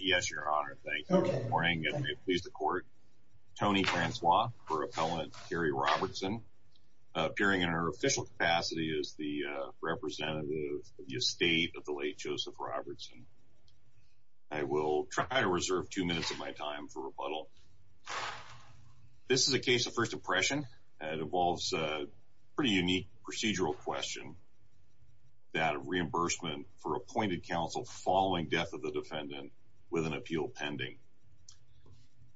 Yes, your honor. Thank you for the morning. Please the court. Tony Francois for appellant Carri Robertson, appearing in her official capacity as the representative of the estate of the late Joseph Robertson. I will try to reserve two minutes of my time for rebuttal. This is a case of first impression. It involves a pretty unique procedural question. That reimbursement for appointed counsel following death of the defendant with an appeal pending.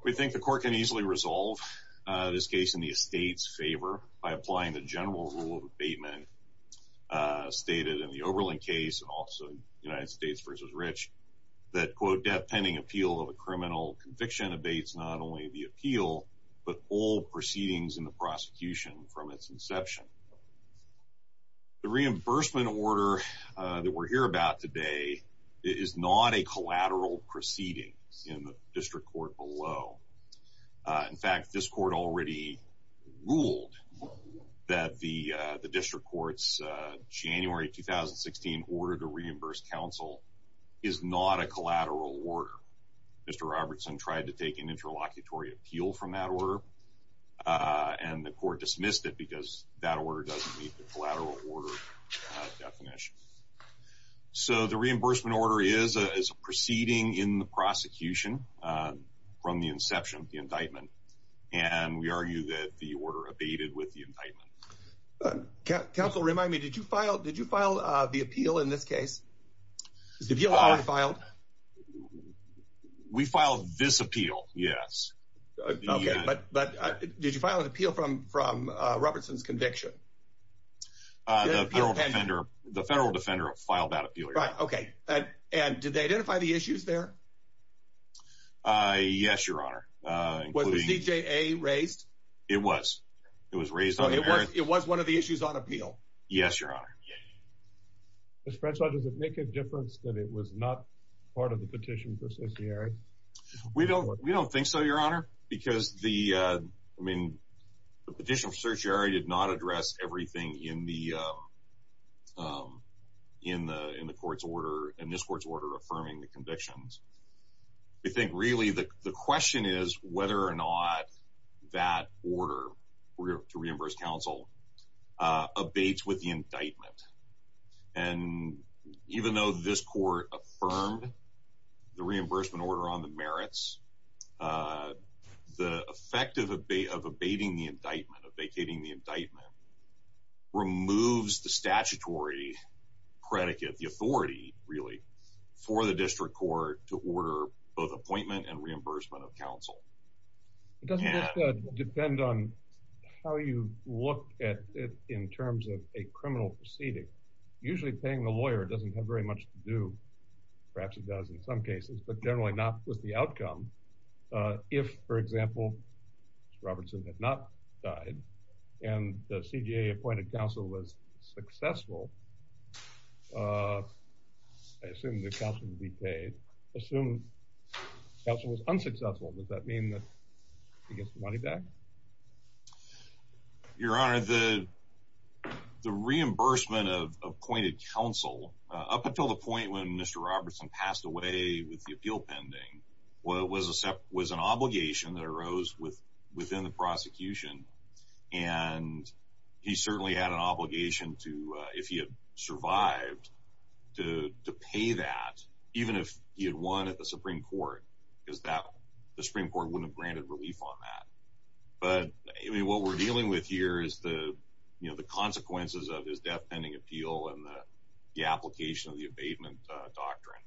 We think the court can easily resolve this case in the estate's favor by applying the general rule of abatement stated in the Oberlin case and also United States v. Rich that quote debt pending appeal of a criminal conviction abates not only the appeal but all proceedings in the prosecution from its inception. The reimbursement order that we're here about today is not a collateral proceeding in the district court below. In fact, this court already ruled that the district court's January 2016 order to reimburse counsel is not a collateral order. Mr. Robertson tried to take an interlocutory appeal from that order and the court dismissed it because that order doesn't meet the collateral order definition. So the reimbursement order is a proceeding in the prosecution from the inception of the indictment and we argue that the order abated with the indictment. Counsel remind me, did you file the appeal in this case? Did you file it? We filed this appeal, yes. Okay, but did you file an appeal from from Robertson's conviction? The federal defender filed that appeal. Right, okay. And did they identify the issues there? Yes, your honor. Was the CJA raised? It was. It was raised. It was one of the issues on appeal? Yes, your honor. Mr. Frenchlaw, does it make a difference that it was not part of the petition for certiorari? We don't, we don't think so, your honor, because the, I mean, the petition for certiorari did not address everything in the, in the, in the court's order, in this court's order affirming the convictions. We think really the question is whether or not that order to reimburse counsel abates with the indictment. And even though this court affirmed the reimbursement order on the merits, the effect of abating the indictment, of vacating the indictment, removes the statutory predicate, the authority really, for the district court to order both appointment and reimbursement of counsel. It doesn't depend on how you look at it in terms of a criminal proceeding. Usually paying the lawyer doesn't have very much to do. Perhaps it does in some cases, but generally not with the outcome. If, for example, Mr. Robertson had not died and the CJA appointed counsel was successful, I assume the counsel would be paid. Assume counsel was unsuccessful, does that mean that he gets the money back? Your honor, the reimbursement of appointed counsel, up until the point when Mr. Robertson passed away with the appeal pending, was an obligation that arose within the prosecution. And he certainly had an obligation to, if he had survived, to pay that, even if he had won at the Supreme Court, because the Supreme Court wouldn't have granted relief on that. But what we're dealing with here is the consequences of his death pending appeal and the application of the abatement doctrine.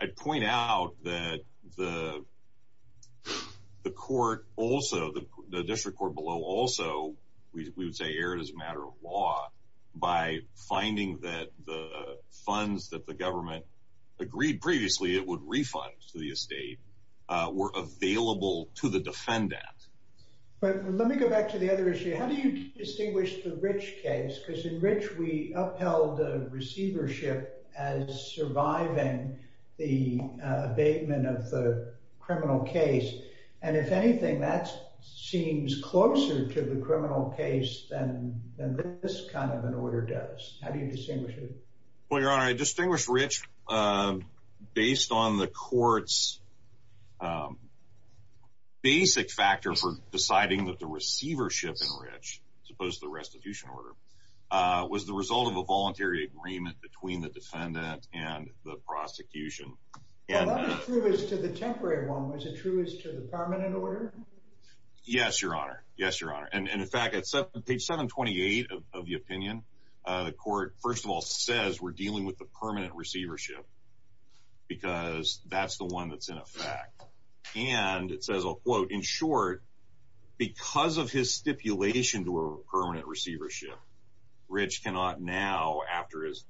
I'd point out that the court also, the district court below also, we would say, erred as a matter of law by finding that the funds that the government agreed previously it would refund to the estate were available to the defendant. But let me go back to the other issue. How do you distinguish the Rich case? Because in Rich we upheld receivership as surviving the abatement of the criminal case. And if anything, that seems closer to the criminal case than this kind of an order does. How do you distinguish it? Well, your honor, I distinguish Rich based on the court's basic factor for deciding that the voluntary agreement between the defendant and the prosecution. Well, that was true as to the temporary one. Was it true as to the permanent order? Yes, your honor. Yes, your honor. And in fact, at page 728 of the opinion, the court first of all says we're dealing with the permanent receivership because that's the one that's in effect. And it says, I'll quote, in short, because of his stipulation to a permanent receivership, Rich cannot now, after his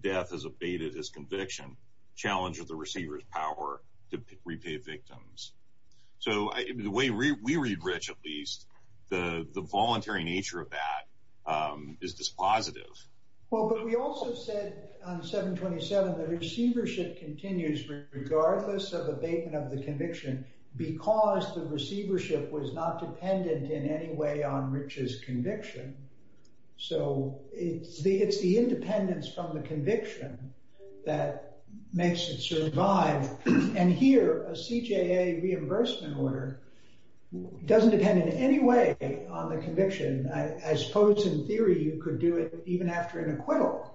death has abated his conviction, challenge the receiver's power to repay victims. So the way we read Rich, at least, the voluntary nature of that is dispositive. Well, but we also said on 727 that receivership continues regardless of abatement of the conviction because the receivership was not dependent in any way on Rich's conviction. So it's the independence from the conviction that makes it survive. And here, a CJA reimbursement order doesn't depend in any way on the conviction. I suppose in theory, you could do it even after an acquittal.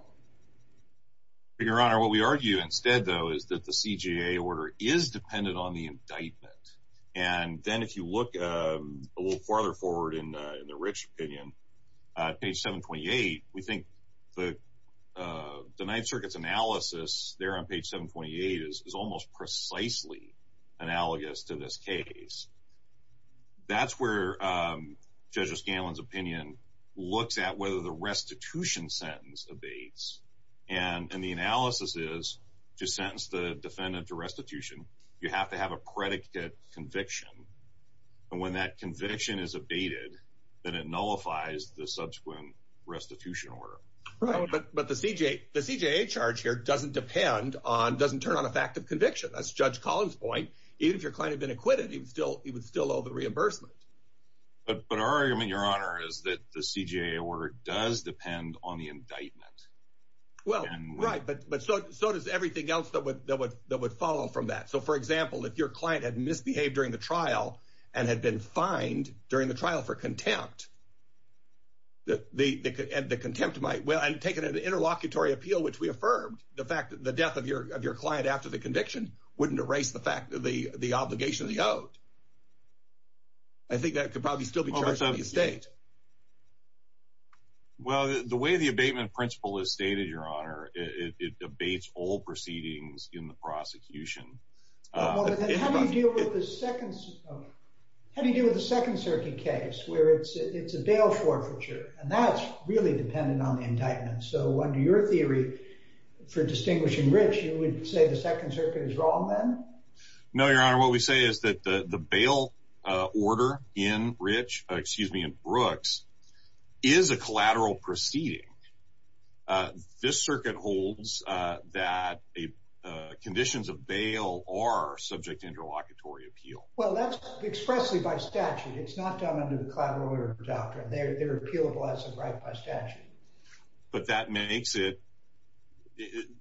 Your honor, what we argue instead, though, is that the CJA order is dependent on the page 728. We think the Ninth Circuit's analysis there on page 728 is almost precisely analogous to this case. That's where Judge O'Scanlan's opinion looks at whether the restitution sentence abates. And the analysis is, to sentence the defendant to restitution, you have to have a predicate conviction. And when that conviction is abated, then it nullifies the subsequent restitution order. Right. But the CJA charge here doesn't depend on, doesn't turn on a fact of conviction. That's Judge Collins' point. Even if your client had been acquitted, he would still owe the reimbursement. But our argument, your honor, is that the CJA order does depend on the indictment. Well, right. But so does everything else that would follow from that. So, for example, if your client had misbehaved during the trial and had been fined during the trial for contempt, that the contempt might, well, and taken an interlocutory appeal, which we affirmed, the fact that the death of your client after the conviction wouldn't erase the fact that the obligation of the oath. I think that could probably still be charged in the estate. Well, the way the abatement principle is stated, your honor, it abates all proceedings in the How do you deal with the Second Circuit case where it's a bail forfeiture? And that's really dependent on the indictment. So under your theory for distinguishing Rich, you would say the Second Circuit is wrong then? No, your honor. What we say is that the bail order in Rich, excuse me, in Brooks is a collateral proceeding. This circuit holds that conditions of bail are subject to expressly by statute. It's not done under the collateral order doctrine. They're appealable as a right by statute. But that makes it,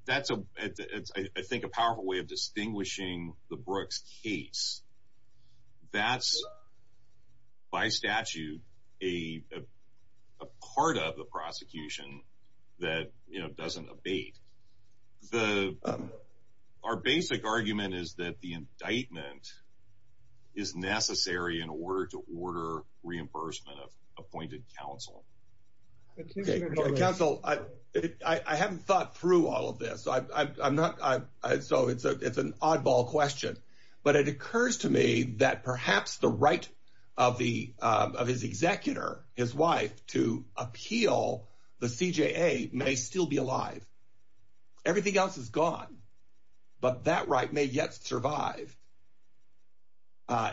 that's, I think, a powerful way of distinguishing the Brooks case. That's by statute a part of the prosecution that, you know, doesn't abate. The, our basic argument is that the indictment is necessary in order to order reimbursement of appointed counsel. Counsel, I haven't thought through all of this. I'm not, so it's an oddball question. But it occurs to me that perhaps the right of his executor, his wife, to appeal the everything else is gone, but that right may yet survive.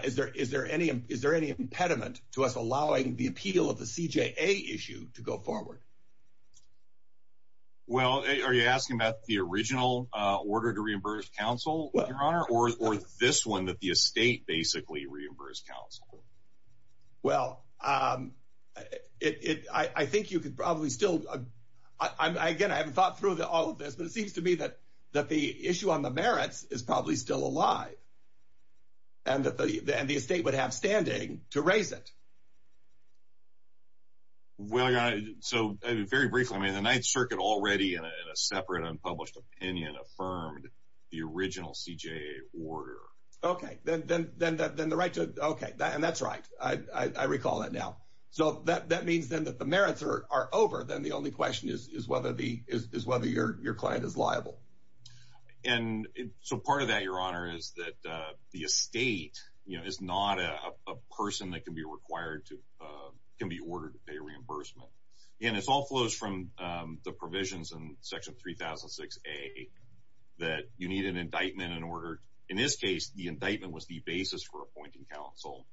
Is there any impediment to us allowing the appeal of the CJA issue to go forward? Well, are you asking about the original order to reimburse counsel, your honor, or this one that the estate basically reimbursed counsel? Well, I think you could probably still, again, I haven't thought through all of this, but it seems to me that the issue on the merits is probably still alive and that the estate would have standing to raise it. Well, your honor, so very briefly, I mean, the Ninth Circuit already in a separate unpublished opinion affirmed the original CJA order. Okay, then the right to, okay, and that's right. I recall that now. So that means then that the merits are over, then the only question is whether the, is whether your client is liable. And so part of that, your honor, is that the estate, you know, is not a person that can be required to, can be ordered to pay reimbursement. And it all flows from the provisions in section 3006A that you need an indictment in order, in this case, the indictment was the basis for appointing counsel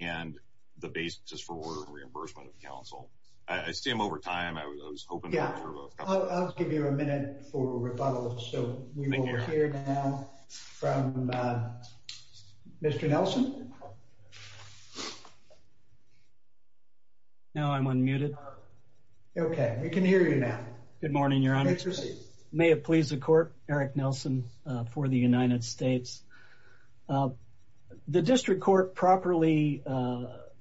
and the basis for reimbursement of counsel. I see I'm over time. I was hoping. Yeah, I'll give you a minute for rebuttal. So we will hear now from Mr. Nelson. Now I'm unmuted. Okay, we can hear you now. Good morning, your honor. May it please the court. Eric Nelson for the United States. The district court properly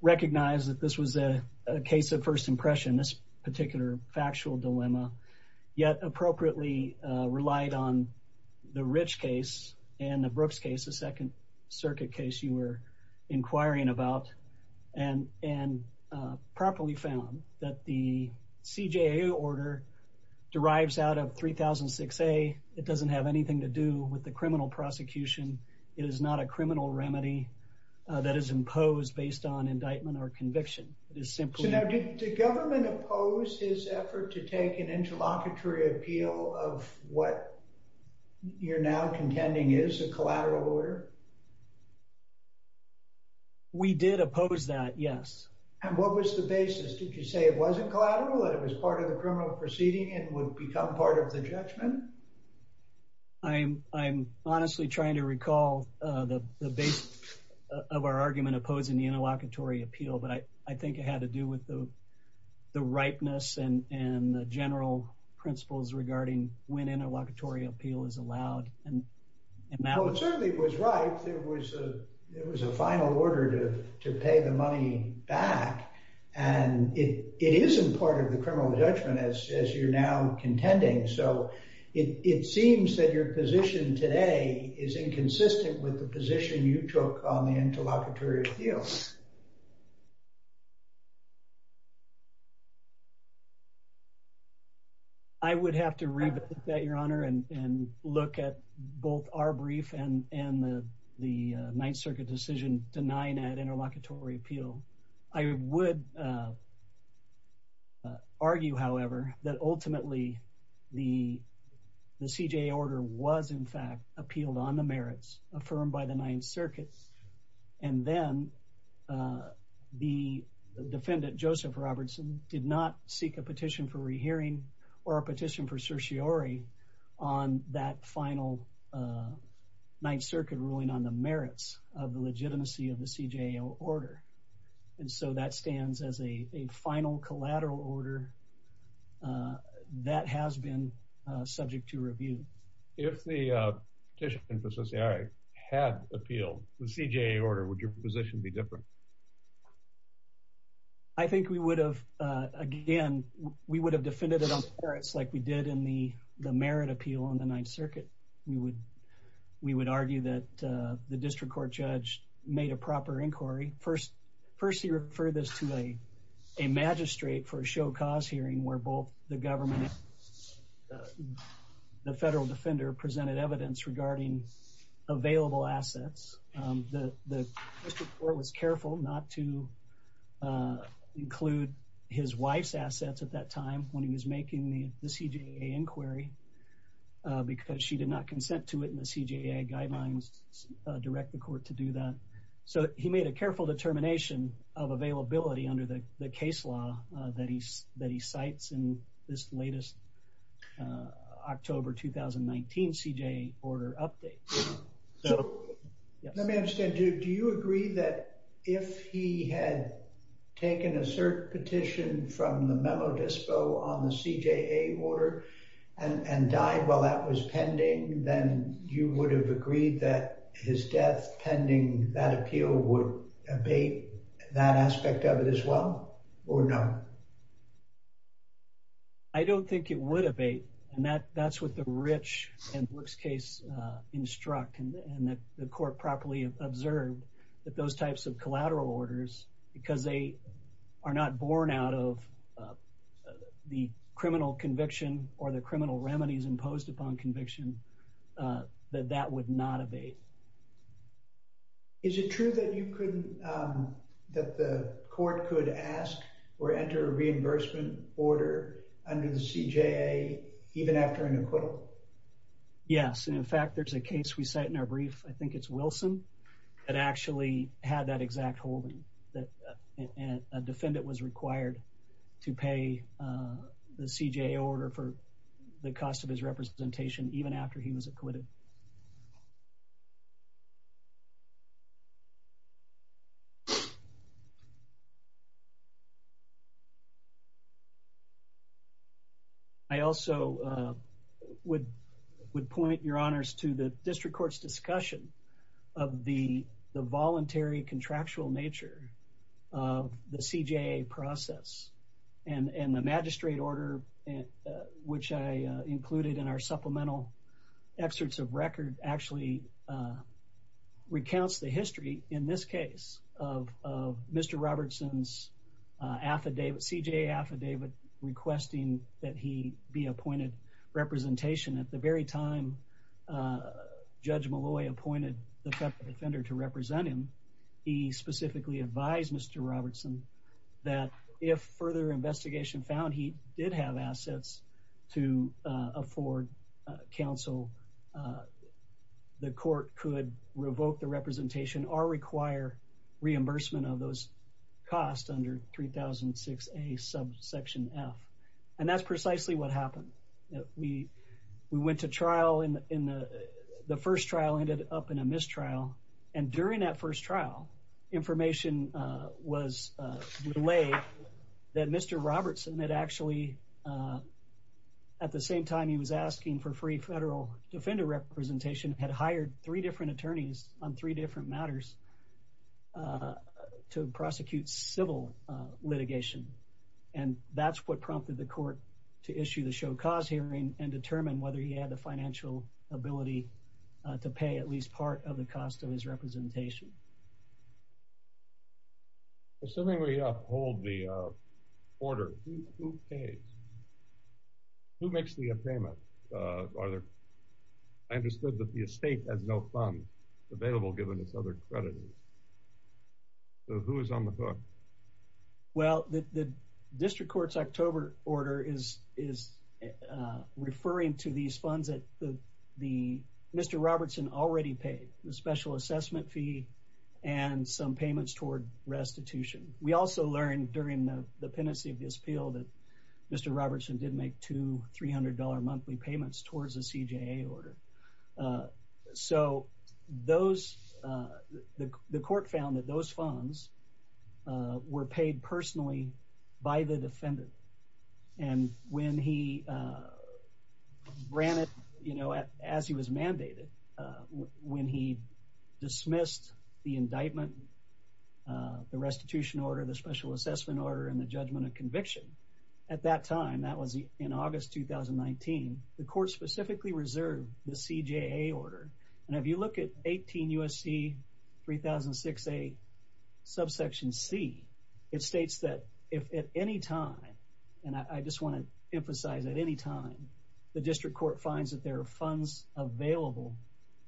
recognized that this was a case of first impression, this particular factual dilemma, yet appropriately relied on the Rich case and the Brooks case, the second circuit case you were inquiring about, and properly found that the CJA order derives out of 3006A. It doesn't have anything to do with the criminal prosecution. It is not a criminal remedy that is imposed based on indictment or conviction. It is simply. So now did the government oppose his effort to take an interlocutory appeal of what you're now contending is a collateral order? We did oppose that, yes. And what was the basis? Did you say it wasn't collateral, that it was part of the criminal proceeding and would become part of the judgment? I'm honestly trying to recall the base of our argument opposing the interlocutory appeal, but I think it had to do with the ripeness and the general principles regarding when interlocutory appeal is allowed. It certainly was right. There was a final order to pay the money back. And it isn't part of the criminal judgment as you're now contending. So it seems that your position today is inconsistent with the position you took on the interlocutory appeal. I would have to read that, Your Honor, and look at both our brief and the Ninth Circuit decision denying that interlocutory appeal. I would argue, however, that ultimately the CJA order was in fact appealed on the merits affirmed by the Ninth Circuit. And then the interlocutory appeal defendant, Joseph Robertson, did not seek a petition for rehearing or a petition for certiorari on that final Ninth Circuit ruling on the merits of the legitimacy of the CJA order. And so that stands as a final collateral order that has been subject to review. If the petition for certiorari had appealed the CJA order, would your position be different? I think we would have, again, we would have defended it on merits like we did in the merit appeal on the Ninth Circuit. We would argue that the district court judge made a proper inquiry. First, he referred this to a magistrate for a show-cause hearing where both the government and the federal defender presented evidence regarding available assets. The district court was careful not to include his wife's assets at that time when he was making the CJA inquiry because she did not consent to it in the CJA guidelines, direct the court to do that. So he made a careful determination of availability under the case law that he cites in this latest October 2019 CJA order update. Let me understand, do you agree that if he had taken a cert petition from the memo dispo on the CJA order and died while that was pending, then you would have agreed that his death pending that appeal would abate that aspect of it as well or not? I don't think it would abate and that's what the Rich and Brooks case instruct and that the court properly observed that those types of collateral orders because they are not born out of the criminal conviction or the criminal remedies imposed upon conviction that that would not abate. Is it true that the court could ask or enter a reimbursement order under the CJA even after an acquittal? Yes, and in fact there's a case we cite in our brief, I think it's Wilson, that actually had that exact holding that a defendant was required to pay the CJA order for the cost of his representation even after he was acquitted. I also would point your honors to the district court's discussion of the voluntary contractual nature of the CJA process and the magistrate order which I included in our supplemental excerpts of record actually recounts the history in this case of Mr. Robertson's affidavit, CJA affidavit requesting that he be appointed representation at the very time Judge Malloy appointed the defender to represent him. He specifically advised Mr. Robertson that if further investigation found he did have assets to afford counsel, the court could revoke the representation or require reimbursement of those costs under 3006A subsection f and that's precisely what happened. We went to trial in the first trial ended up in a mistrial and during that first trial information was relayed that Mr. Robertson had actually at the same time he was asking for free federal defender representation had hired three different attorneys on three different matters to prosecute civil litigation and that's what prompted the court to issue the show cause hearing and determine whether he had the financial ability to pay at least part of the cost of his representation. Assuming we uphold the order, who pays? Who makes the payment? I understood that the estate has no funds available given its other creditors. So who is on the hook? Well, the district court's October order is referring to these funds that Mr. Robertson already paid, the special assessment fee and some payments toward restitution. We also learned during the pendency of this appeal that Mr. Robertson did make two $300 monthly payments towards the CJA order. So those, the court found that those funds were paid personally by the defendant and when he ran it, you know, as he was mandated, when he dismissed the indictment, the restitution order, the special assessment order and the judgment of conviction at that time, that was in August 2019, the court specifically reserved the CJA order and if you look at 18 U.S.C. 3006A subsection C, it states that if at any time and I just want to emphasize at any time, the district court finds that there are funds available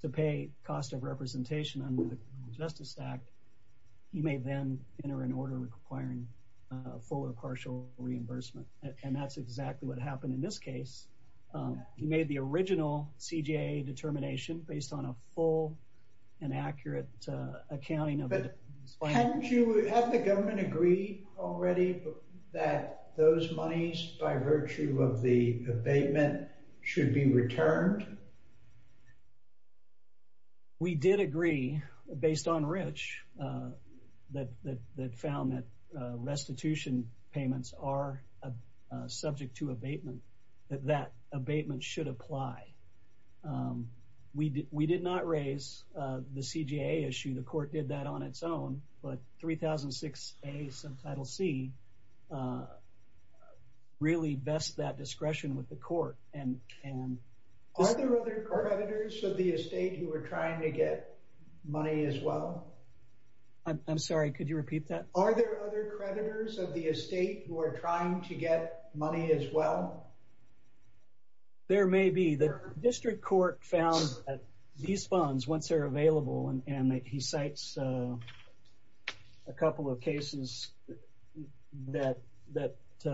to pay cost of representation under the criminal justice act, he may then enter an order requiring full or partial reimbursement and that's exactly what happened in this case. He made the original CJA determination based on a full and accurate accounting of it. Hadn't you, had the government agreed already that those monies by virtue of the abatement should be returned? We did agree based on Rich that found that restitution payments are subject to abatement, that that abatement should apply. We did not raise the CJA issue, the court did that on its own, but 3006A subtitle C really best that discretion with the court. Are there other creditors of the estate who are trying to get money as well? I'm sorry, could you repeat that? Are there other creditors of the estate who are trying to get money as well? There may be. The district court found that these funds, once they're available and he cites a couple of cases that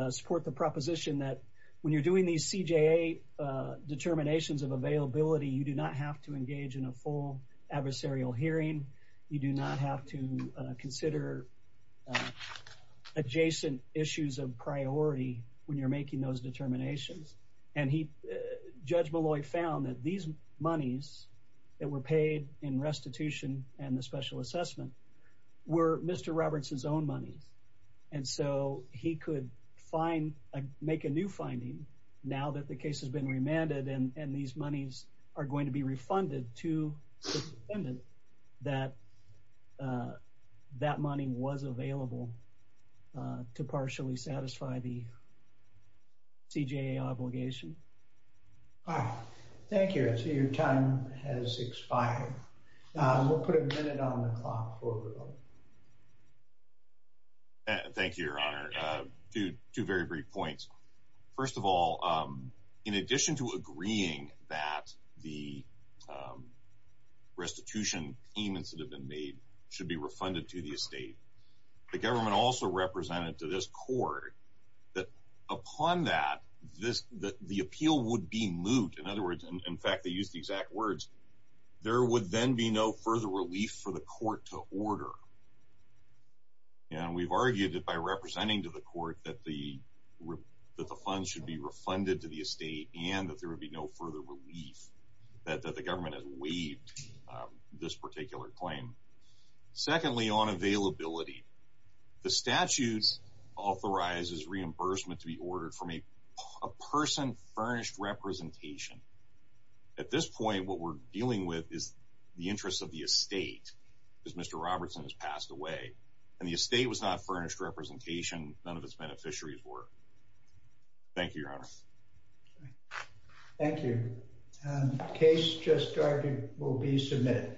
support the proposition that when you're doing these CJA determinations of availability, you do not have to engage in a full adversarial hearing. You do not have to consider adjacent issues of priority when you're making those determinations and he, Judge Molloy found that these monies that were paid in restitution and the special assessment were Mr. Roberts' own monies and so he could make a new finding now that the case has been remanded and these monies are going to be refunded to the defendant that that money was available to partially satisfy the CJA obligation. All right, thank you. I see your time has expired. We'll put a minute on the clock. Thank you, Your Honor. Two very brief points. First of all, in addition to agreeing that the restitution payments that have been made should be refunded to the estate, the government also represented to this court that upon that, the appeal would be moot. In other words, in fact, they used the exact words, there would then be no further relief for the court to order and we've argued that by representing to the court that the funds should be refunded to the estate and that there would be no further relief that the government has waived this claim. Secondly, on availability, the statutes authorizes reimbursement to be ordered from a person furnished representation. At this point, what we're dealing with is the interest of the estate because Mr. Robertson has passed away and the estate was not furnished representation, none of its beneficiaries were. Thank you, Your Honor. Thank you. Case just started will be adjourned.